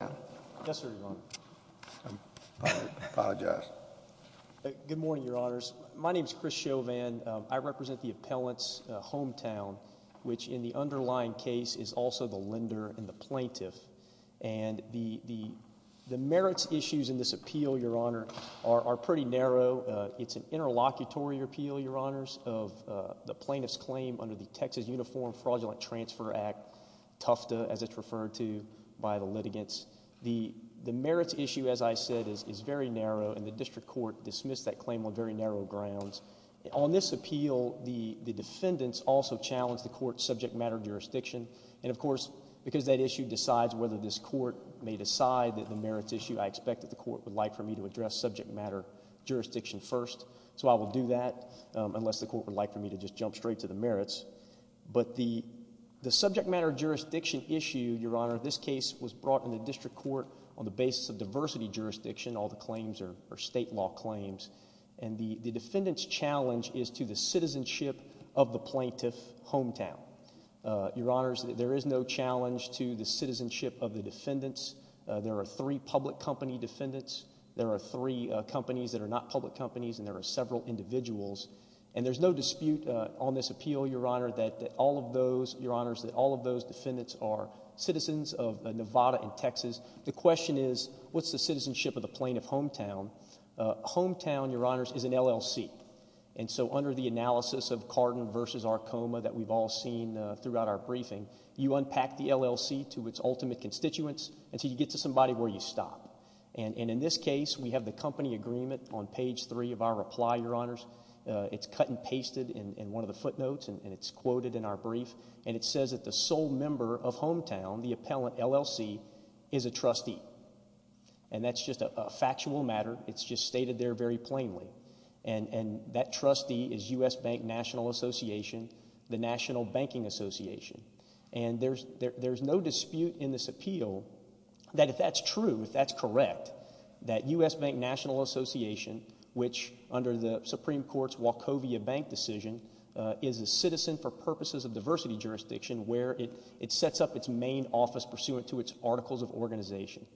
Good morning, Your Honors. My name is Chris Chauvin. I represent the appellant's hometown, which in the underlying case is also the lender and the plaintiff. And the merits issues in this appeal, Your Honor, are pretty narrow. It's an interlocutory appeal, Your Honors, of the plaintiff's claim under the Texas Uniform Fraudulent Transfer Act, TUFTA as it's referred to by the litigants. The merits issue, as I said, is very narrow, and the district court dismissed that claim on very narrow grounds. On this appeal, the defendants also challenged the court's subject matter jurisdiction. And of course, because that issue decides whether this court may decide that the merits issue, I expect that the court would like for me to address subject matter jurisdiction first. So I will do that, unless the court would like for me to just jump straight to the merits. But the subject matter jurisdiction issue, Your Honor, this case was brought in the district court on the basis of diversity jurisdiction, all the claims are state law claims. And the defendant's challenge is to the citizenship of the plaintiff's hometown. Your Honors, there is no challenge to the citizenship of the defendants. There are three public company defendants. There are three companies that are not public companies, and there are several individuals. And there's no dispute on this Nevada and Texas. The question is, what's the citizenship of the plaintiff's hometown? Hometown, Your Honors, is an LLC. And so under the analysis of Cardin v. Arcoma that we've all seen throughout our briefing, you unpack the LLC to its ultimate constituents until you get to somebody where you stop. And in this case, we have the company agreement on page 3 of our reply, Your Honors. It's cut and pasted in one of the footnotes, and it's hometown, the appellant, LLC, is a trustee. And that's just a factual matter. It's just stated there very plainly. And that trustee is U.S. Bank National Association, the National Banking Association. And there's no dispute in this appeal that if that's true, if that's correct, that U.S. Bank National Association, which under the Supreme Court's Wachovia Bank decision, is a citizen for purposes of diversity jurisdiction where it sets up its main office pursuant to its articles of organization.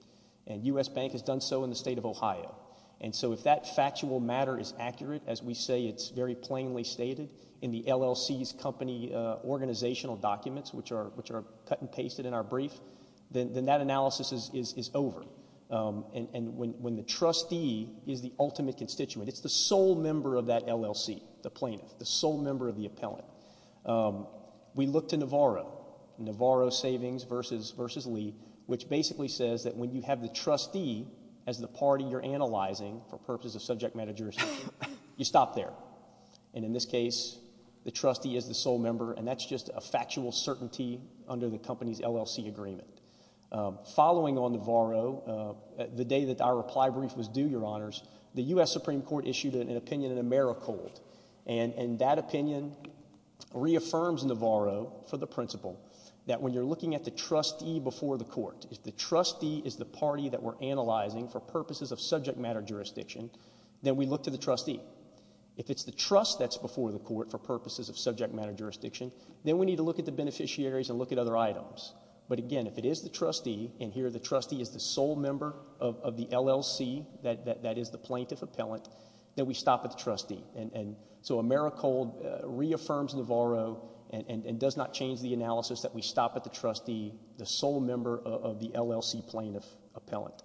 And U.S. Bank has done so in the state of Ohio. And so if that factual matter is accurate, as we say it's very plainly stated in the LLC's company organizational documents, which are cut and pasted in our brief, then that analysis is over. And when the trustee is the ultimate constituent, it's the sole member of that LLC, the plaintiff, the sole member of the appellant. We look to Navarro, Navarro Savings versus Lee, which basically says that when you have the trustee as the party you're analyzing for purposes of subject matter jurisdiction, you stop there. And in this case, the trustee is the sole member, and that's just a factual certainty under the company's LLC agreement. Following on Navarro, the day that our reply brief was due, Your Honors, the U.S. Supreme Court issued an opinion in Americold. And that opinion reaffirms Navarro for the principle that when you're looking at the trustee before the court, if the trustee is the party that we're analyzing for purposes of subject matter jurisdiction, then we look to the trustee. If it's the trust that's before the court for purposes of subject matter jurisdiction, then we need to look at the beneficiaries and look at other items. But again, if it is the trustee, and here the trustee is the sole member of the LLC, that is the plaintiff appellant, then we stop at the trustee. And so Americold reaffirms Navarro and does not change the analysis that we stop at the trustee, the sole member of the LLC plaintiff appellant.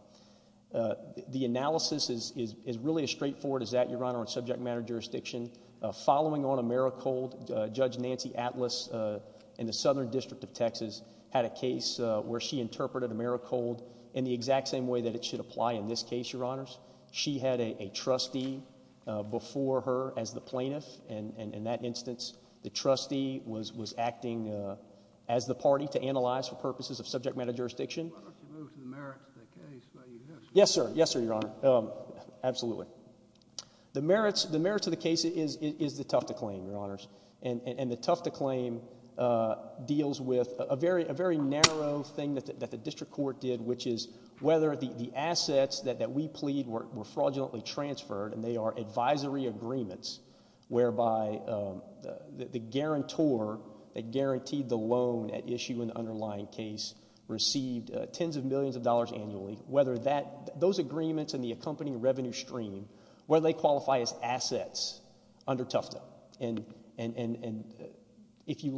The analysis is really as straightforward as that, Your Honor, on subject matter jurisdiction. Following on Americold, Judge Nancy Atlas in the Southern District of Texas had a case where she interpreted Americold in the exact same way that it should apply in this case, Your Honors. She had a trustee before her as the plaintiff, and in that instance, the trustee was acting as the party to analyze for purposes of subject matter jurisdiction. Why don't you move to the merits of the case while you do this? Yes, sir. Yes, sir, Your Honor. Absolutely. The merits of the case is the Tufta claim, Your Honors. And the Tufta claim deals with a very narrow thing that the district court did, which is whether the assets that we plead were fraudulently transferred, and they are advisory agreements whereby the guarantor that guaranteed the loan at issue in the underlying case received tens of millions of dollars annually, whether those agreements and the accompanying revenue stream, whether they qualify as assets under Tufta. And if you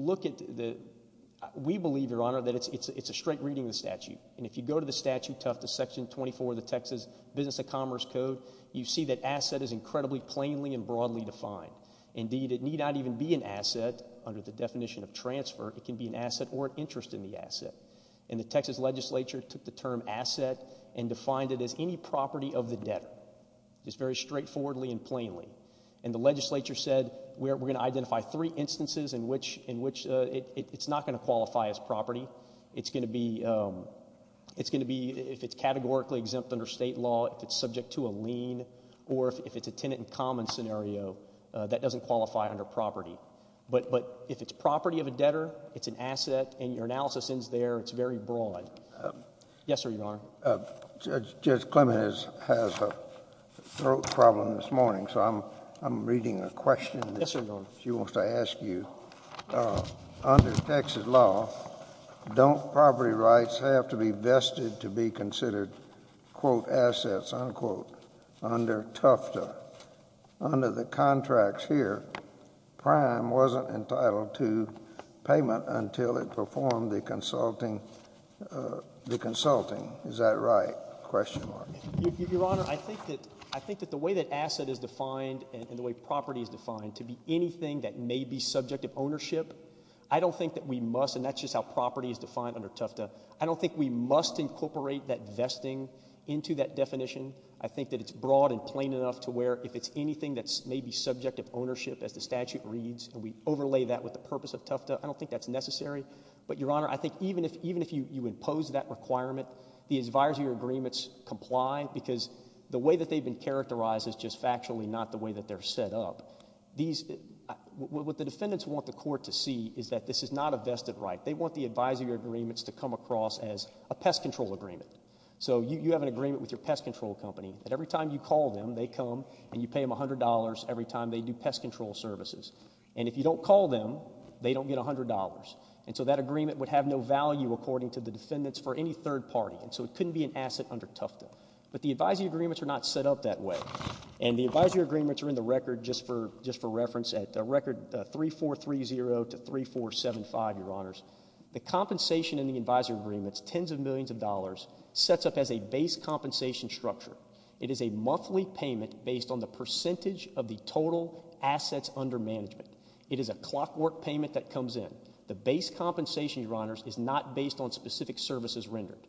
go to the statute, Tufta Section 24 of the Texas Business and Commerce Code, you see that asset is incredibly plainly and broadly defined. Indeed, it need not even be an asset under the definition of transfer. It can be an asset or an interest in the asset. And the Texas legislature took the term asset and defined it as any property of the debtor. It's very straightforwardly and plainly. And the legislature said, we're going to identify three instances in which it's not going to qualify as property. It's going to be if it's categorically exempt under state law, if it's subject to a lien, or if it's a tenant-in-common scenario, that doesn't qualify under property. But if it's property of a debtor, it's an asset, and your analysis ends there. It's very broad. Yes, sir, Your Honor. Judge Clement has a throat problem this morning, so I'm reading a question she wants to ask you. Under Texas law, don't property rights have to be vested to be considered, quote, assets, unquote, under Tufta? Under the contracts here, Prime wasn't entitled to payment until it performed the consulting. Is that right? Your Honor, I think that the way that asset is defined and the way property is defined to be anything that may be subject of ownership, I don't think that we must, and that's just how property is defined under Tufta, I don't think we must incorporate that vesting into that definition. I think that it's broad and plain enough to where if it's anything that may be subject of ownership, as the statute reads, and we overlay that with the purpose of Tufta, I don't think that's necessary. But Your Honor, I think even if you impose that requirement, the advisory agreements comply because the way that they've been characterized is just factually not the way that they're set up. What the defendants want the court to see is that this is not a vested right. They want the advisory agreements to come across as a pest control agreement. So you have an agreement with your pest control company that every time you call them, they come and you pay them $100 every time they do pest control services. And if you don't call them, they don't get $100. And so that agreement would have no value, according to the defendants, for any third party. And so it couldn't be an asset under Tufta. But the advisory agreements are not set up that way. And the advisory agreements are in the record just for reference at record 3430 to 3475, Your Honors. The compensation in the advisory agreements, tens of millions of dollars, sets up as a base compensation structure. It is a monthly payment based on the percentage of the total assets under management. It is a clockwork payment that comes in. The base compensation, Your Honors, is not based on specific services rendered.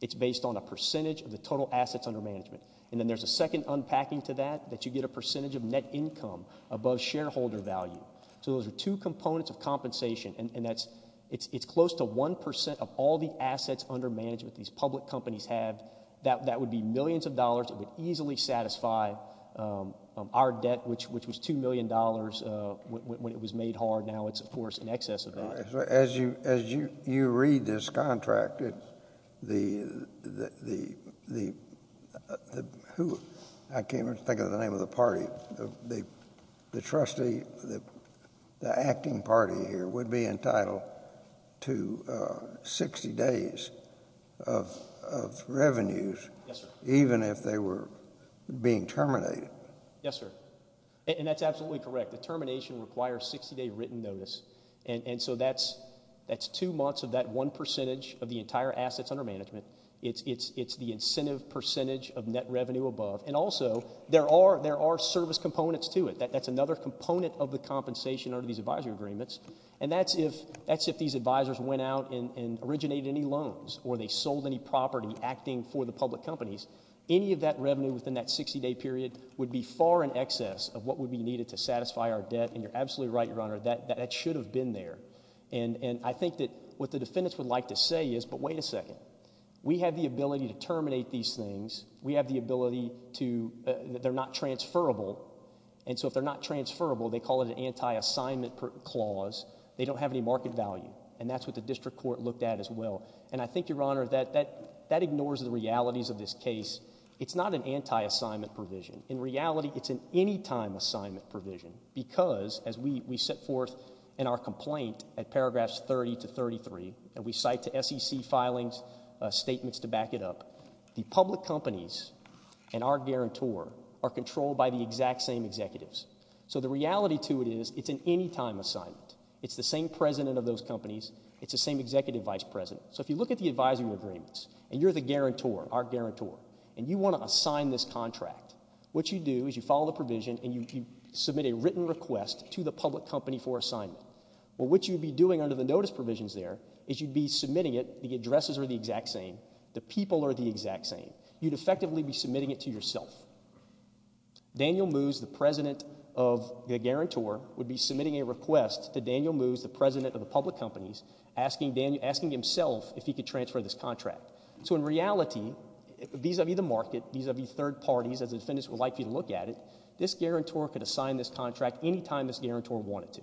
It's based on a percentage of the total assets under management. And then there's a second unpacking to that, that you get a percentage of net income above shareholder value. So those are two components of compensation. And that's, it's close to 1% of all the assets under management these public companies have. That would be millions of dollars. It would easily satisfy our debt, which was $2 million when it was made hard. Now it's, of course, in excess of that. As you, as you read this contract, the, the, the, the, who, I can't even think of the name of the party. The, the trustee, the, the acting party here would be entitled to 60 days of, of revenues. Yes, sir. Even if they were being terminated. Yes, sir. And that's absolutely correct. The termination requires 60 day written notice. And so that's, that's two months of that 1% of the entire assets under management. It's, it's, it's the incentive percentage of net revenue above. And also there are, there are service components to it. That's another component of the compensation under these advisory agreements. And that's if, that's if these advisors went out and, and originated any loans or they any of that revenue within that 60 day period would be far in excess of what would be needed to satisfy our debt. And you're absolutely right. Your Honor, that, that, that should have been there. And, and I think that what the defendants would like to say is, but wait a second, we have the ability to terminate these things. We have the ability to, they're not transferable. And so if they're not transferable, they call it an anti-assignment clause. They don't have any market value. And that's what the district court looked at as well. And I think Your Honor, that, that, that ignores the realities of this case. It's not an anti-assignment provision. In reality, it's an anytime assignment provision. Because as we, we set forth in our complaint at paragraphs 30 to 33, and we cite to SEC filings statements to back it up, the public companies and our guarantor are controlled by the exact same executives. So the reality to it is it's an anytime assignment. It's the same president of those companies. It's the same executive vice president. So if you look at the advisory agreements, and you're the guarantor, our guarantor, and you want to assign this contract, what you do is you follow the provision and you, you submit a written request to the public company for assignment. Well, what you'd be doing under the notice provisions there is you'd be submitting it, the addresses are the exact same, the people are the exact same. You'd effectively be submitting it to yourself. Daniel Moos, the president of the guarantor, would be submitting a request to Daniel Moos, the president of the public companies, asking Daniel, asking himself if he could transfer this contract. So in reality, vis-a-vis the market, vis-a-vis third parties, as the defendants would like for you to look at it, this guarantor could assign this contract anytime this guarantor wanted to.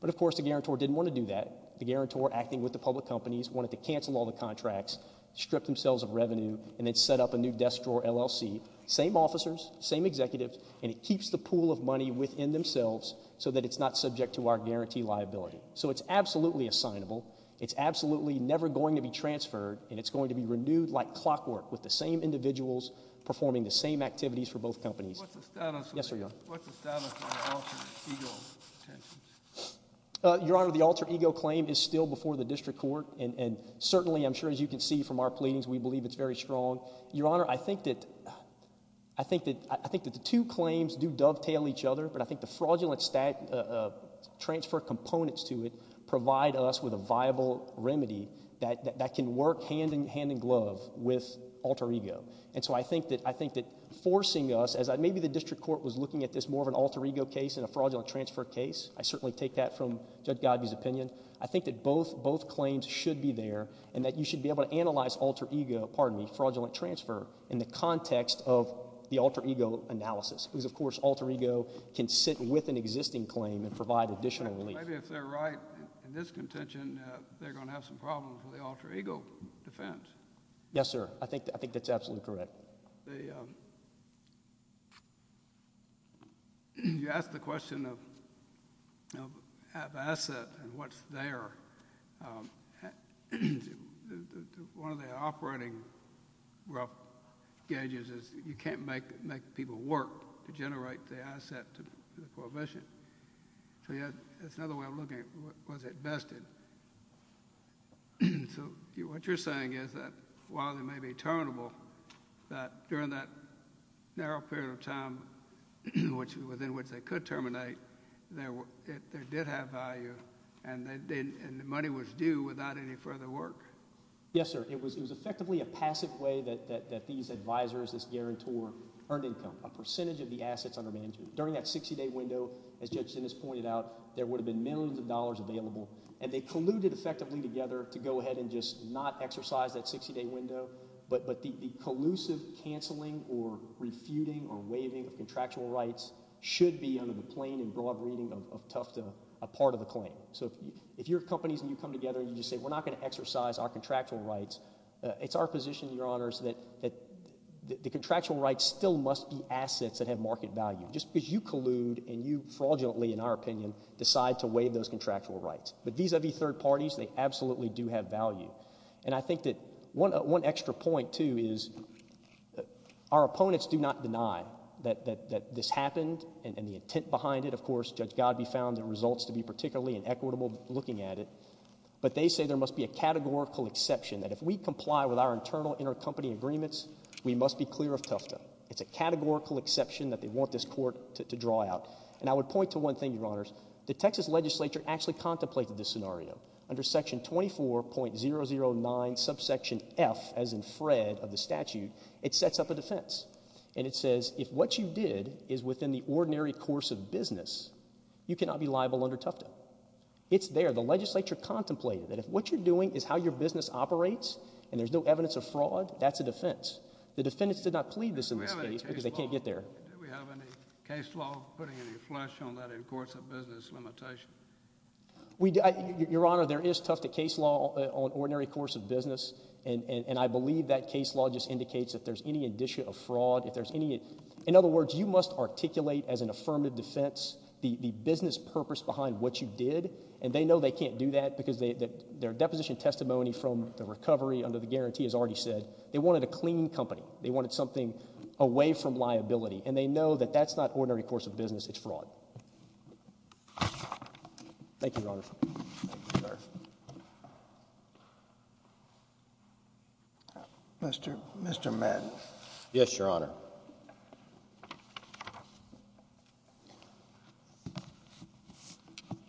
But of course the guarantor didn't want to do that. The guarantor, acting with the public companies, wanted to cancel all the contracts, strip themselves of revenue, and then set up a new desk drawer LLC. Same officers, same executives, and it keeps the pool of money within themselves so that it's not subject to our guarantee liability. So it's absolutely assignable, it's absolutely never going to be transferred, and it's going to be renewed like clockwork, with the same individuals performing the same activities for both companies. What's the status of the alter ego? Your Honor, the alter ego claim is still before the district court, and certainly, I'm sure as you can see from our pleadings, we believe it's very strong. Your Honor, I think that the two claims do dovetail each other, but I think the fraudulent transfer components to it provide us with a viable remedy that can work hand in glove with alter ego. And so I think that forcing us, as maybe the district court was looking at this more of an alter ego case than a fraudulent transfer case, I certainly take that from Judge Godby's opinion, I think that both claims should be there, and that you should be able to analyze alter ego, pardon me, fraudulent transfer in the context of the alter ego analysis. Because of course alter ego can sit with an existing claim and provide additional relief. Maybe if they're right in this contention, they're going to have some problems with the alter ego defense. Yes, sir. I think that's absolutely correct. You asked the question of asset and what's there. One of the operating rough gauges is you can't make people work to generate the asset to the prohibition. So yet, that's another way of looking at it. Was it vested? So what you're saying is that while they may be terminable, that during that narrow period of time within which they could terminate, there did have value and the money was due without any further work? Yes, sir. It was effectively a passive way that these advisors, this guarantor, earned income. A percentage of the assets under management. During that 60-day window, as Judge Dennis pointed out, there would have been millions of dollars available, and they colluded effectively together to go ahead and just not exercise that 60-day window, but the collusive cancelling or refuting or waiving of contractual rights should be under the plain and broad reading of Tufta a part of the claim. So if your companies and you come together and you just say, we're not going to exercise our contractual rights, it's our position, Your Honors, that the contractual rights still must be assets that have market value. Just because you collude and you fraudulently, in our opinion, decide to waive those contractual rights. But vis-a-vis third parties, they absolutely do have value. And I think that one extra point, too, is our opponents do not deny that this happened and the intent behind it. Of course, Judge Godbey found the exception that if we comply with our internal intercompany agreements, we must be clear of Tufta. It's a categorical exception that they want this court to draw out. And I would point to one thing, Your Honors. The Texas legislature actually contemplated this scenario. Under section 24.009 subsection F, as in Fred, of the statute, it sets up a defense. And it says, if what you did is within the ordinary course of business, you cannot be liable under Tufta. It's there. The legislature contemplated that if what you're doing is how your business operates, and there's no evidence of fraud, that's a defense. The defendants did not plead this in this case because they can't get there. Do we have any case law putting any flush on that in courts of business limitation? Your Honor, there is Tufta case law on ordinary course of business. And I believe that case law just indicates that if there's any indicia of fraud, if there's any, in other words, you must articulate as an affirmative defense the business purpose behind what you did. And they know they can't do that because their deposition testimony from the recovery under the guarantee has already said they wanted a clean company. They wanted something away from liability. And they know that that's not ordinary course of business. It's fraud. Thank you, Your Honor. Thank you, sir. Mr. Madden. Yes, Your Honor.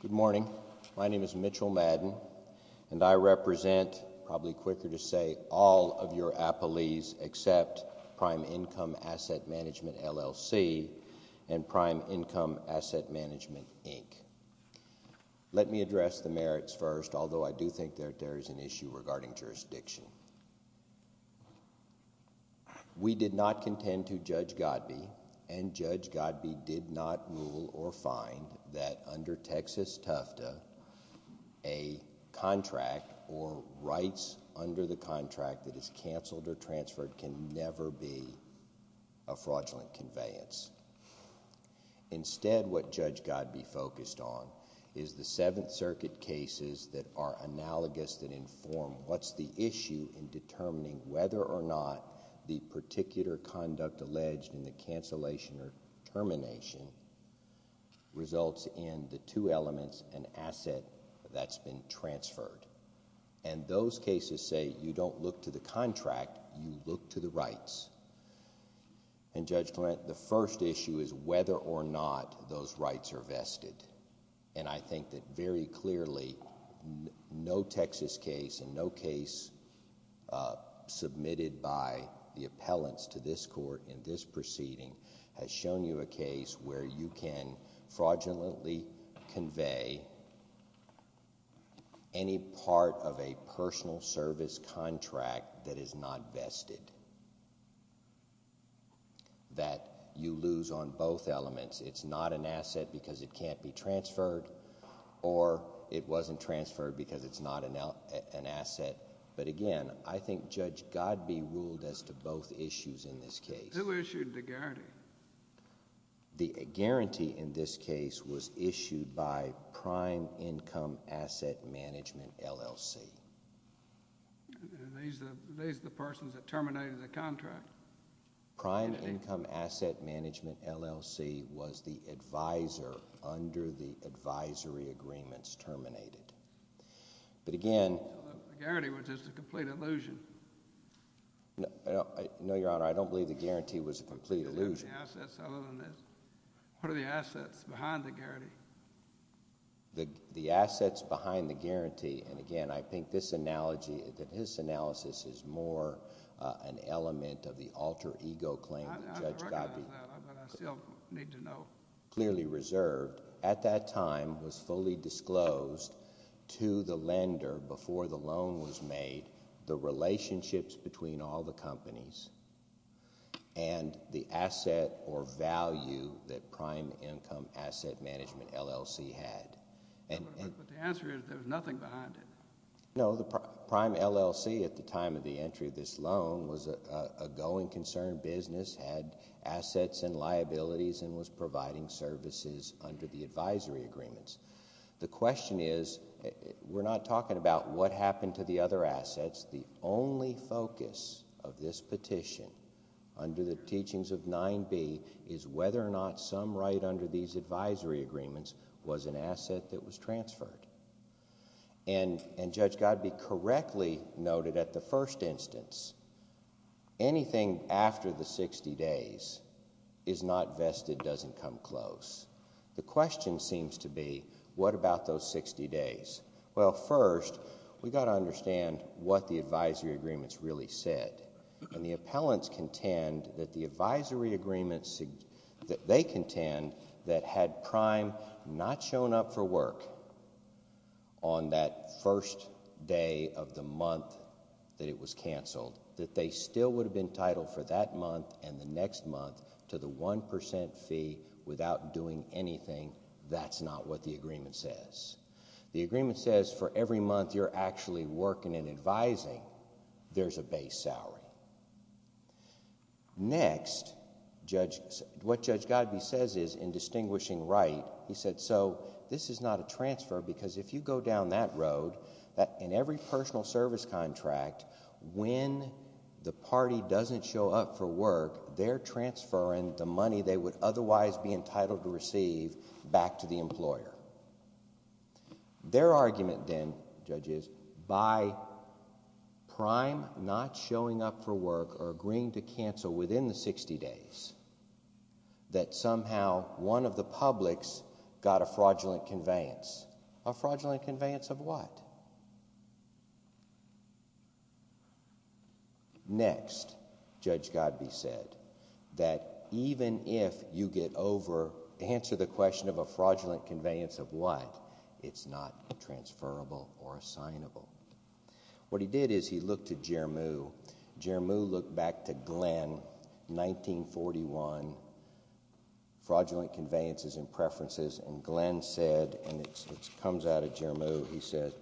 Good morning. My name is Mitchell Madden, and I represent, probably quicker to say, all of your appellees except Prime Income Asset Management, LLC, and Prime Income Asset Management, LLC. I'd like to address the merits first, although I do think that there is an issue regarding jurisdiction. We did not contend to Judge Godbee, and Judge Godbee did not rule or find that under Texas Tufta, a contract or rights under the contract that is canceled or transferred can never be a fraudulent conveyance. Instead, what we do is we look at circuit cases that are analogous that inform what's the issue in determining whether or not the particular conduct alleged in the cancellation or termination results in the two elements and asset that's been transferred. And those cases say you don't look to the contract, you look to the rights. And, Judge Clement, the first issue is whether or not those rights are vested. And I think that very clearly, no Texas case and no case submitted by the appellants to this court in this proceeding has shown you a case where you can fraudulently convey any part of a personal service contract that is not vested, that you lose on both elements. It's not an asset because it can't be transferred or it wasn't transferred because it's not an asset. But again, I think Judge Godbee ruled as to both issues in this case. Who issued the guarantee? The guarantee in this case was issued by Prime Income Asset Management, LLC. And these are the persons that terminated the contract? Prime Income Asset Management, LLC, was the advisor under the advisory agreements terminated. But again... The guarantee was just a complete illusion. No, Your Honor, I don't believe the guarantee was a complete illusion. What are the assets other than this? What are the assets behind the guarantee? The assets behind the guarantee, and again, I think this analogy, that his analysis is more an element of the alter ego claim that Judge Godbee... I recognize that, but I still need to know.... clearly reserved, at that time was fully disclosed to the lender before the loan was made, the relationships between all the companies, and the asset or value that Prime Income Asset Management, LLC, had. But the answer is, there was nothing behind it. No, the Prime LLC, at the time of the entry of this loan, was a going concern business, had assets and liabilities, and was providing services under the advisory agreements. The question is, we're not talking about what happened to the other assets. The only focus of this petition, under the teachings of 9B, is whether or not some right under these advisory agreements was an asset that was transferred. And Judge Godbee correctly noted at the first instance, anything after the 60 days is not vested, doesn't come close. The question seems to be, what about those 60 days? Well, first, we've got to understand what the advisory agreements really said. And the appellants contend that the advisory agreements, that they contend, that had Prime not shown up for work on that first day of the month that it was canceled, that they still would have been entitled for that month and the next month to the 1% fee without doing anything. That's not what the agreement says. The agreement says, for every month you're actually working and advising, there's a base salary. Next, what Judge Godbee says is, in distinguishing right, he said, so this is not a transfer, because if you go down that road, in every personal service contract, when the party doesn't show up for work, they're transferring the money they would otherwise be entitled to receive back to the employer. Their argument then, Judge, is by Prime not showing up for work or agreeing to cancel within the 60 days, that somehow one of the publics got a fraudulent conveyance. A fraudulent conveyance of what? Next, Judge Godbee said, that even if you get over, answer the question of a fraudulent conveyance of what, it's not transferable or assignable. What he did is, he looked to Jermoo. Jermoo looked back to Glenn, 1941, fraudulent conveyances and preferences, and Glenn said, and it comes out of Jermoo, he said,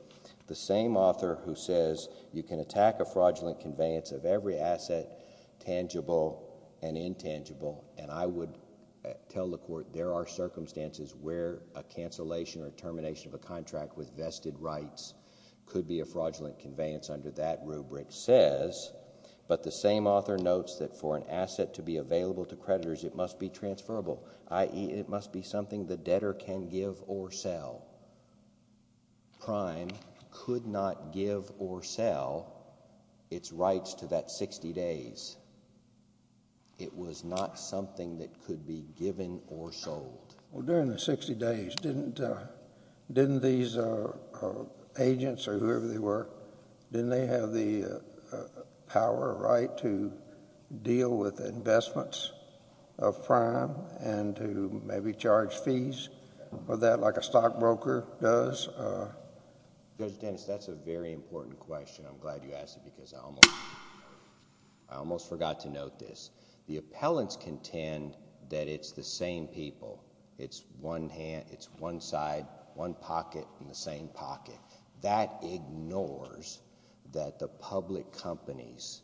the same author who says, you can attack a fraudulent conveyance of every asset, tangible and intangible, and I would tell the court, there are circumstances where a cancellation or termination of a contract with vested rights could be a fraudulent conveyance under that rubric, says, but the same author notes that for an asset to be available to creditors, it must be transferable, i.e., it must be something the debtor can give or sell. Prime could not give or sell its rights to that 60 days. It was not something that could be given or sold. Well, during the 60 days, didn't these agents or whoever they were, didn't they have the power or right to deal with investments of Prime and to maybe charge fees? Was that like a stockbroker does? Judge Dennis, that's a very important question. I'm glad you asked it because I almost forgot to note this. The appellants contend that it's the same people. It's one side, one pocket, and the same pocket. That ignores that the public companies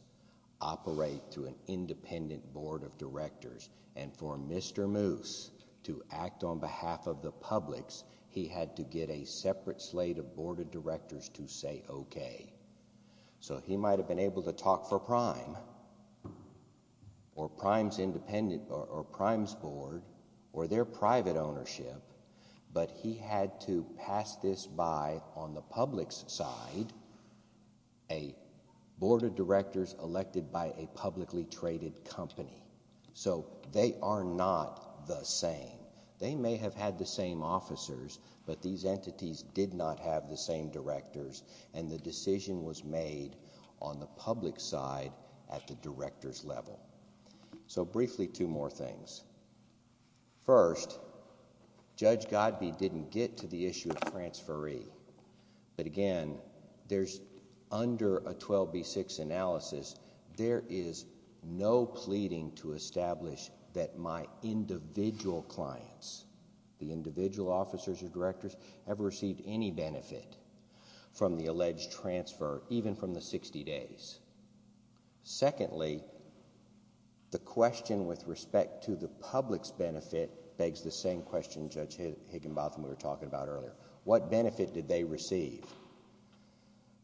operate through an independent board of directors, and for Mr. Moose to act on behalf of the publics, he had to get a separate slate of board of directors to say okay. So he might have been able to talk for Prime or Prime's board or their private ownership, but he had to pass this by on the public's side, a board of directors elected by a publicly traded company. So they are not the same. They may have had the same officers, but these entities did not have the same directors, and the decision was made on the public's side at the director's level. So briefly, two more things. First, Judge Godby didn't get to the issue of transferee, but again, there's under a no pleading to establish that my individual clients, the individual officers or directors, ever received any benefit from the alleged transfer, even from the 60 days. Secondly, the question with respect to the public's benefit begs the same question Judge Higginbotham was talking about earlier. What benefit did they receive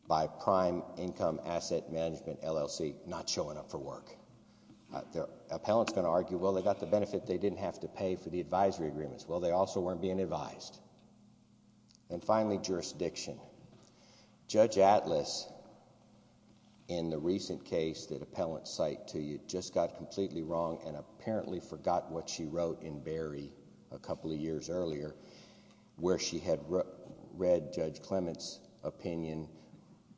by Prime Income Asset Management LLC not showing up for work? The appellant's going to argue, well, they got the benefit they didn't have to pay for the advisory agreements. Well, they also weren't being advised. And finally, jurisdiction. Judge Atlas, in the recent case that appellants cite to you, just got completely wrong and apparently forgot what she wrote in Berry a couple of years earlier, where she had read Judge Clement's opinion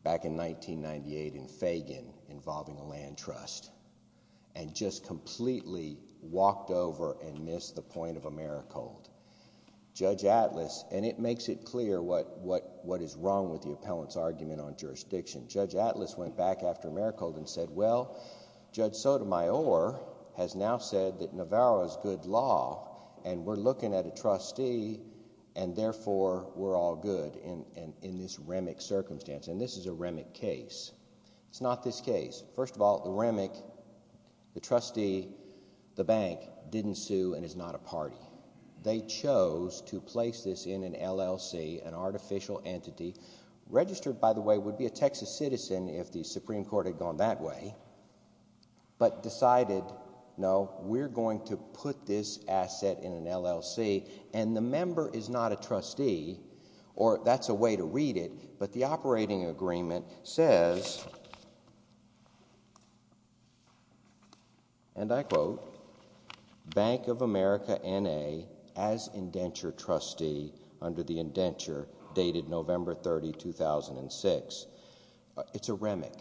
back in 1998 in Fagan involving a land trust and just completely walked over and missed the point of Americold. Judge Atlas, and it makes it clear what is wrong with the appellant's argument on jurisdiction. Judge Atlas went back after Americold and said, well, Judge Sotomayor has now said that a trustee and therefore we're all good in this REMIC circumstance. And this is a REMIC case. It's not this case. First of all, the REMIC, the trustee, the bank didn't sue and is not a party. They chose to place this in an LLC, an artificial entity, registered by the way would be a Texas citizen if the Supreme Court had gone that way, but decided, no, we're going to put this in an LLC. And the member is not a trustee, or that's a way to read it, but the operating agreement says, and I quote, Bank of America N.A. as indenture trustee under the indenture dated November 30, 2006. It's a REMIC.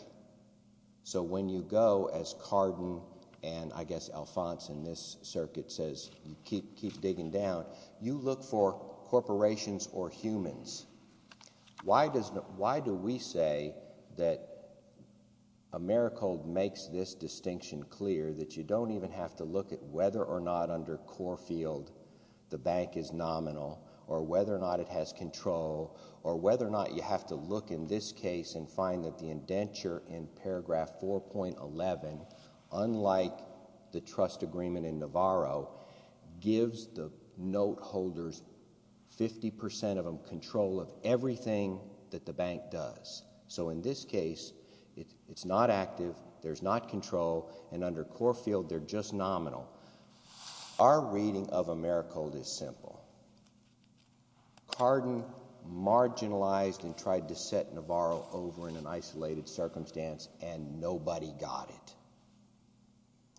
So when you go as Carden and I guess Alphonse in this circuit says, you keep digging down, you look for corporations or humans. Why do we say that Americold makes this distinction clear, that you don't even have to look at whether or not under Corfield the bank is nominal, or whether or not it has control, or whether or not you have to look in this case and find that the indenture in paragraph 4.11, unlike the trust agreement in Navarro, gives the note holders, 50% of them, control of everything that the bank does. So in this case, it's not active, there's not control, and under Corfield they're just nominal. Our reading of Americold is simple. Carden marginalized and tried to set Navarro over in an isolated circumstance, and nobody got it.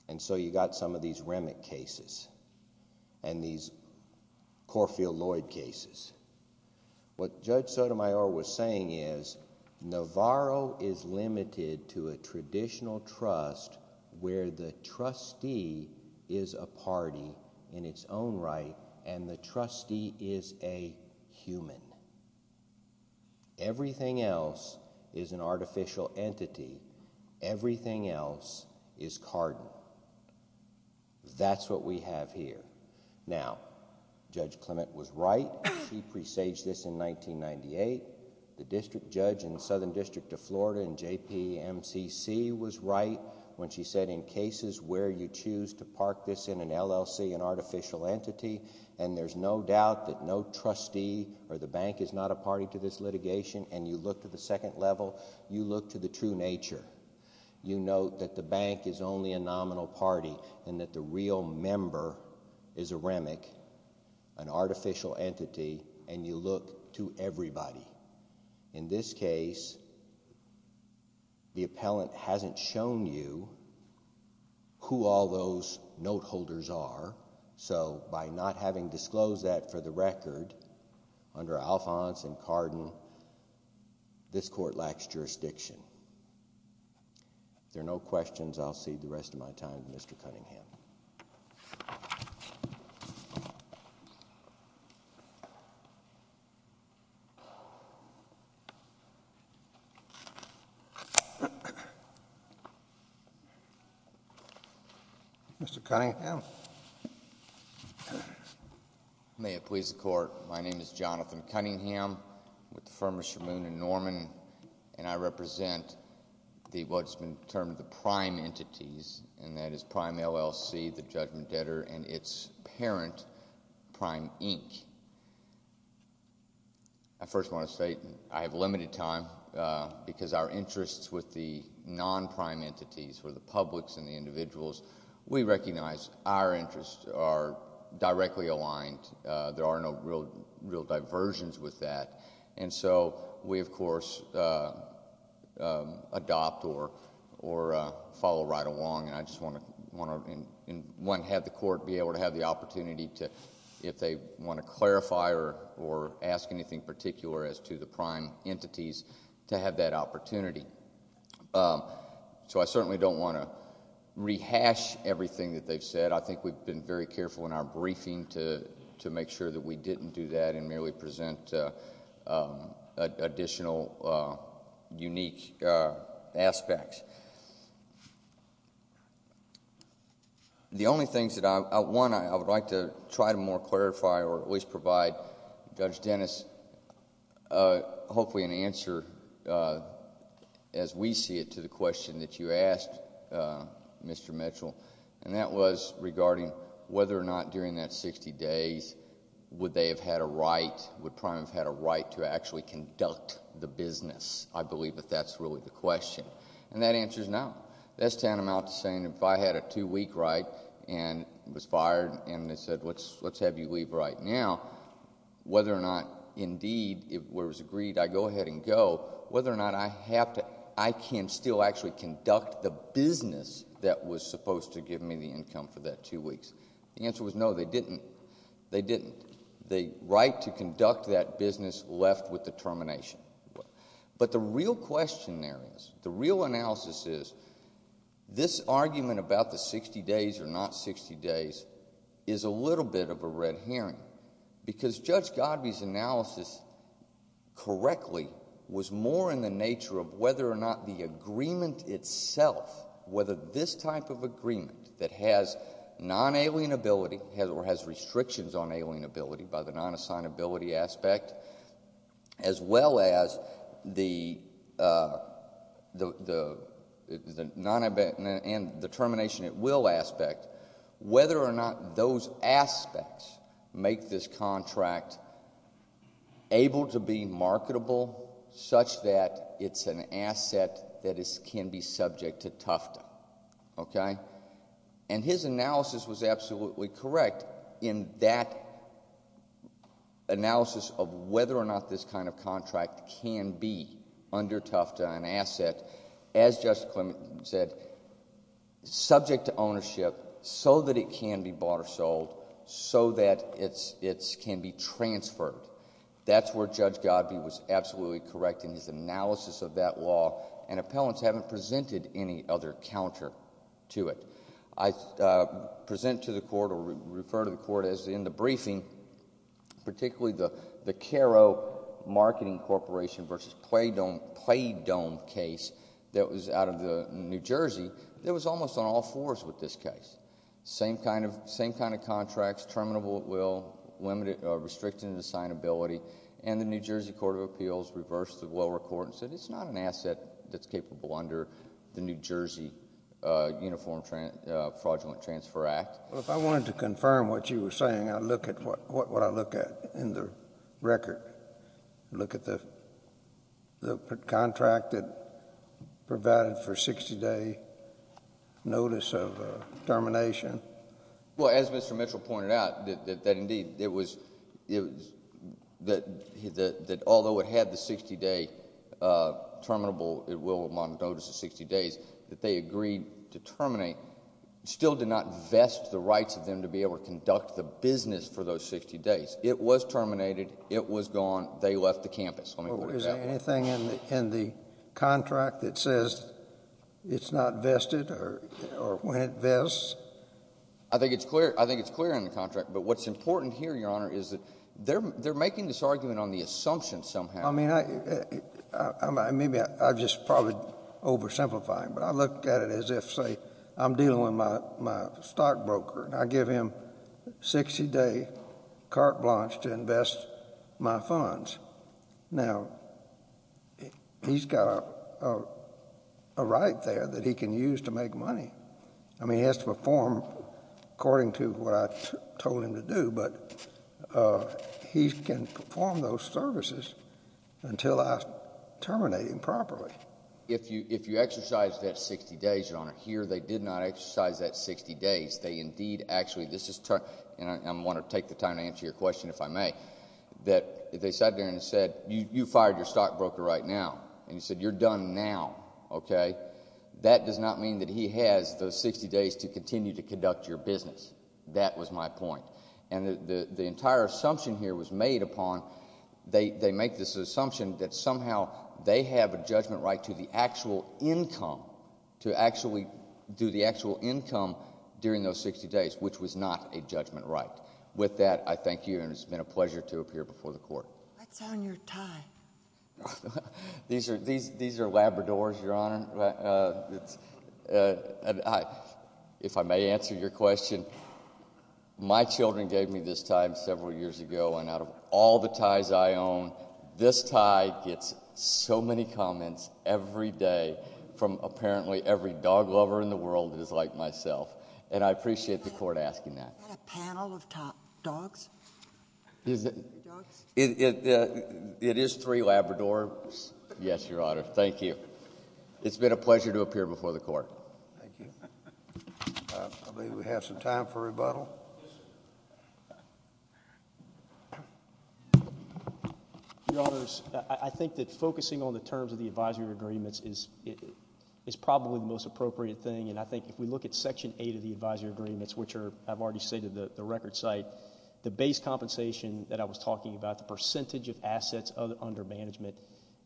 And so you got some of these REMIC cases, and these Corfield-Lloyd cases. What Judge Sotomayor was saying is, Navarro is limited to a traditional trust where the trustee is a human. Everything else is an artificial entity. Everything else is Carden. That's what we have here. Now, Judge Clement was right, she presaged this in 1998, the district judge in the Southern District of Florida in JPMCC was right when she said, in cases where you choose to park this in an LLC, an artificial entity, and there's no doubt that no trustee or the bank is not a party to this litigation, and you look to the second level, you look to the true nature. You note that the bank is only a nominal party, and that the real member is a REMIC, an artificial entity, and you look to everybody. In this case, the appellant hasn't shown you who all those notables are. So, by not having disclosed that for the record, under Alphonse and Carden, this court lacks jurisdiction. If there are no questions, I'll cede the rest of my time to Mr. Cunningham. Mr. Cunningham. May it please the Court, my name is Jonathan Cunningham, with the firm of Shermoon & Norman, and I represent what's been termed the prime entities, and that is Prime LLC, the Judgment Debtor, and its parent, Prime Inc. I first want to say, I have limited time, because our interests with the non-prime entities for the publics and the individuals, we recognize our interests are directly aligned, there are no real diversions with that, and so we, of course, adopt or follow right along, and I just want to have the court be able to have the opportunity to, if they want to clarify or ask anything particular as to the prime entities, to have that opportunity. So I certainly don't want to rehash everything that they've said. I think we've been very careful in our briefing to make sure that we didn't do that and merely present additional unique aspects. The only things that I... one, I would like to try to more clarify or at least provide Judge Dennis hopefully an answer, as we see it, to the question that you asked, Mr. Mitchell, and that was regarding whether or not during that 60 days would they have had a right, would Prime have had a right to actually conduct the business. I believe that that's really the question, and that answer is no. That's tantamount to saying if I had a two-week right and was fired and they said, let's have you leave right now, whether or not, indeed, it was agreed, I go ahead and go, whether or not I have to... I can still actually conduct the business that was supposed to give me the income for that two weeks, the answer was no, they didn't. They didn't. The right to conduct that business left with the termination. But the real question there is, the real analysis is, this argument about the 60 days or not 60 days is a little bit of a red herring because Judge Godby's analysis correctly was more in the nature of whether or not the agreement itself, whether this type of agreement that has non-alienability or has restrictions on alienability by the non-assignability aspect as well as the termination at will aspect, whether or not those aspects make this contract able to be marketable such that it's an asset that can be subject to Tufta, okay? And his analysis was absolutely correct in that analysis of whether or not this kind of contract can be under Tufta an asset, as Justice Clement said, subject to ownership so that it can be bought or sold so that it can be transferred. That's where Judge Godby was absolutely correct in his analysis of that law and appellants haven't presented any other counter to it. I present to the court or refer to the court as in the briefing, particularly the Caro Marketing Corporation versus Play Dome case that was out of New Jersey, that was almost on all fours with this case. Same kind of contracts, terminable at will, restricted in assignability, and the New Jersey Court of Appeals reversed the lower court and said it's not an asset that's capable under the New Jersey Uniform Fraudulent Transfer Act. Well, if I wanted to confirm what you were saying, I'd look at what I look at in the record. Look at the contract that provided for 60-day notice of termination. Well, as Mr. Mitchell pointed out, that indeed it was, that although it had the 60-day terminable at will on notice of 60 days that they agreed to terminate, still did not vest the rights of them to be able to conduct the business for those 60 days. It was terminated. It was gone. They left the campus. Well, is there anything in the contract that says it's not vested or when it vests? I think it's clear. I think it's clear in the contract. But what's important here, Your Honor, is that they're making this argument on the assumption somehow. I mean, maybe I'm just probably oversimplifying, but I look at it as if, say, I'm dealing with my stockbroker and I give him 60-day carte blanche to invest my funds. Now, he's got a right there that he can use to make money. I mean, he has to perform according to what I told him to do, but he can perform those services until I terminate him properly. If you exercise that 60 days, Your Honor, here they did not exercise that 60 days. They indeed actually, this is, and I want to take the time to answer your question if I may, that they sat there and said, you fired your stockbroker right now, and you said you're done now, okay? That does not mean that he has those 60 days to continue to conduct your business. That was my point. And the entire assumption here was made upon, they make this assumption that somehow they have a judgment right to the actual income, to actually do the actual income during those 60 days, which was not a judgment right. With that, I thank you, and it's been a pleasure to appear before the Court. What's on your tie? These are Labradors, Your Honor. If I may answer your question, my children gave me this tie several years ago, and out of all the ties I own, this tie gets so many comments every day from apparently every dog-lover in the world that is like myself, and I appreciate the Court asking that. Is that a panel of dogs? It is three Labradors, yes, Your Honor. Thank you. It's been a pleasure to appear before the Court. I believe we have some time for rebuttal. Your Honors, I think that focusing on the terms of the advisory agreements is probably the most appropriate thing, and I think if we look at Section 8 of the advisory agreements, which I've already stated the record site, the base compensation that I was talking about, the percentage of assets under management,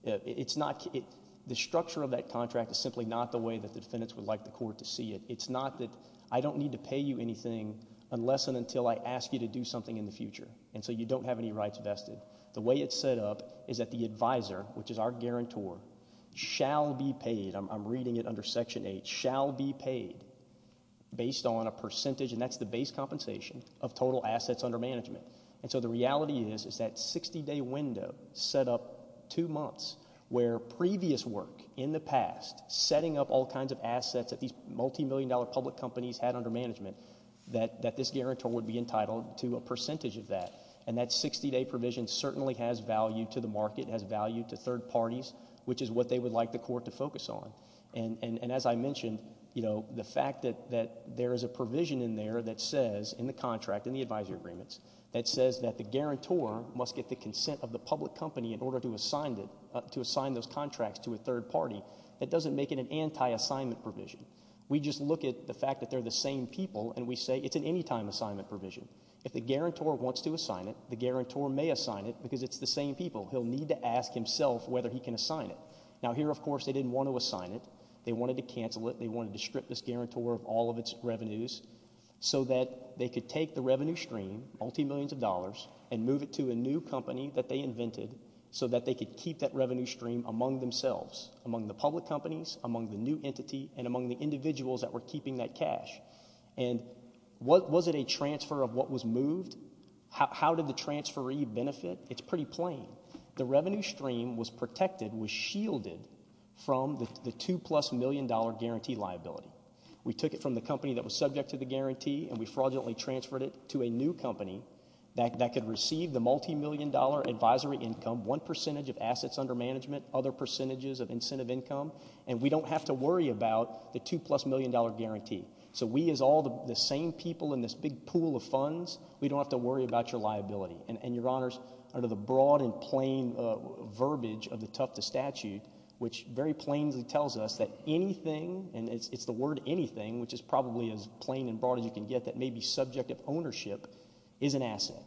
the structure of that contract is simply not the way that the defendants would like the Court to see it. It's not that I don't need to pay you anything unless and until I ask you to do something in the future, and so you don't have any rights vested. The way it's set up is that the advisor, which is our guarantor, shall be paid, I'm reading it under Section 8, shall be paid based on a percentage, and that's the base compensation, of total assets under management. The reality is that 60-day window set up two months where previous work in the past, setting up all kinds of assets that these multi-million dollar public companies had under management, that this guarantor would be entitled to a percentage of that, and that 60-day provision certainly has value to the market, has value to third parties, which is what they would like the Court to focus on, and as I mentioned, the fact that there is a provision in there that says, in the contract, in the advisory agreements, that says that the guarantor must get the consent of the public company in order to assign those contracts to a third party, that doesn't make it an anti-assignment provision. We just look at the fact that they're the same people, and we say it's an anytime assignment provision. If the guarantor wants to assign it, the guarantor may assign it, because it's the same people. He'll need to ask himself whether he can assign it. Now, here, of course, they didn't want to assign it. They wanted to cancel it. They wanted to strip this guarantor of all of its revenues, so that they could take the revenue stream, multi-millions of dollars, and move it to a new company that they invented, so that they could keep that revenue stream among themselves, among the public companies, among the new entity, and among the individuals that were keeping that cash. And was it a transfer of what was moved? How did the transferee benefit? It's pretty plain. The revenue stream was protected, was shielded, from the two-plus-million-dollar guarantee liability. We took it from the company that was subject to the guarantee, and we fraudulently transferred it to a new company that could receive the multi-million-dollar advisory income, one percentage of assets under management, other percentages of incentive income. And we don't have to worry about the two-plus-million-dollar guarantee. So we, as all the same people in this big pool of funds, we don't have to worry about your liability. And, Your Honors, under the broad and plain verbiage of the Tufts statute, which very plainly tells us that anything, and it's the word anything, which is probably as plain and broad as you can get, that may be subject of ownership, is an asset.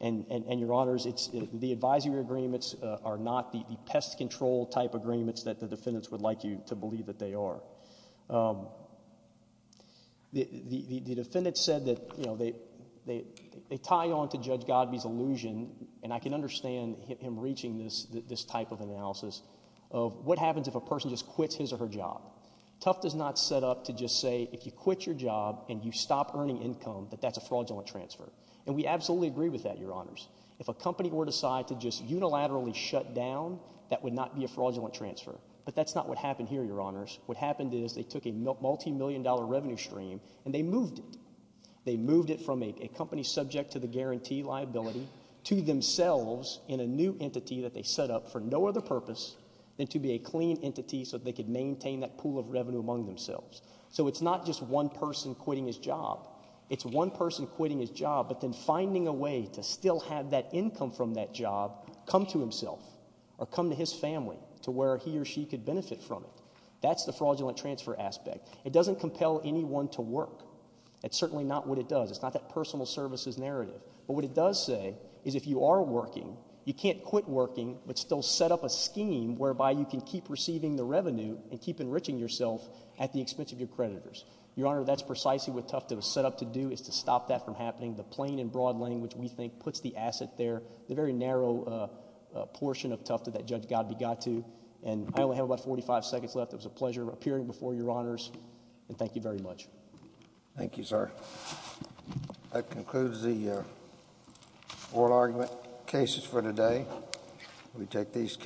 And Your Honors, the advisory agreements are not the pest control type agreements that the defendants would like you to believe that they are. The defendants said that, you know, they tie on to Judge Godby's illusion, and I can understand him reaching this type of analysis, of what happens if a person just quits his or her job. Tufts is not set up to just say, if you quit your job and you stop earning income, that that's a fraudulent transfer. And we absolutely agree with that, Your Honors. If a company were to decide to just unilaterally shut down, that would not be a fraudulent transfer. But that's not what happened here, Your Honors. What happened is they took a multi-million-dollar revenue stream and they moved it. They moved it from a company subject to the guarantee liability to themselves in a new entity that they set up for no other purpose than to be a clean entity so that they could maintain that pool of revenue among themselves. So it's not just one person quitting his job. It's one person quitting his job, but then finding a way to still have that income from that job come to himself or come to his family, to where he or she could benefit from it. That's the fraudulent transfer aspect. It doesn't compel anyone to work. It's certainly not what it does. It's not that personal services narrative. But what it does say is if you are working, you can't quit working but still set up a keep enriching yourself at the expense of your creditors. Your Honor, that's precisely what Tufta was set up to do, is to stop that from happening. The plain and broad language, we think, puts the asset there, the very narrow portion of Tufta that Judge Godbey got to. And I only have about 45 seconds left. It was a pleasure appearing before Your Honors, and thank you very much. Thank you, sir. That concludes the oral argument cases for today. We take these cases.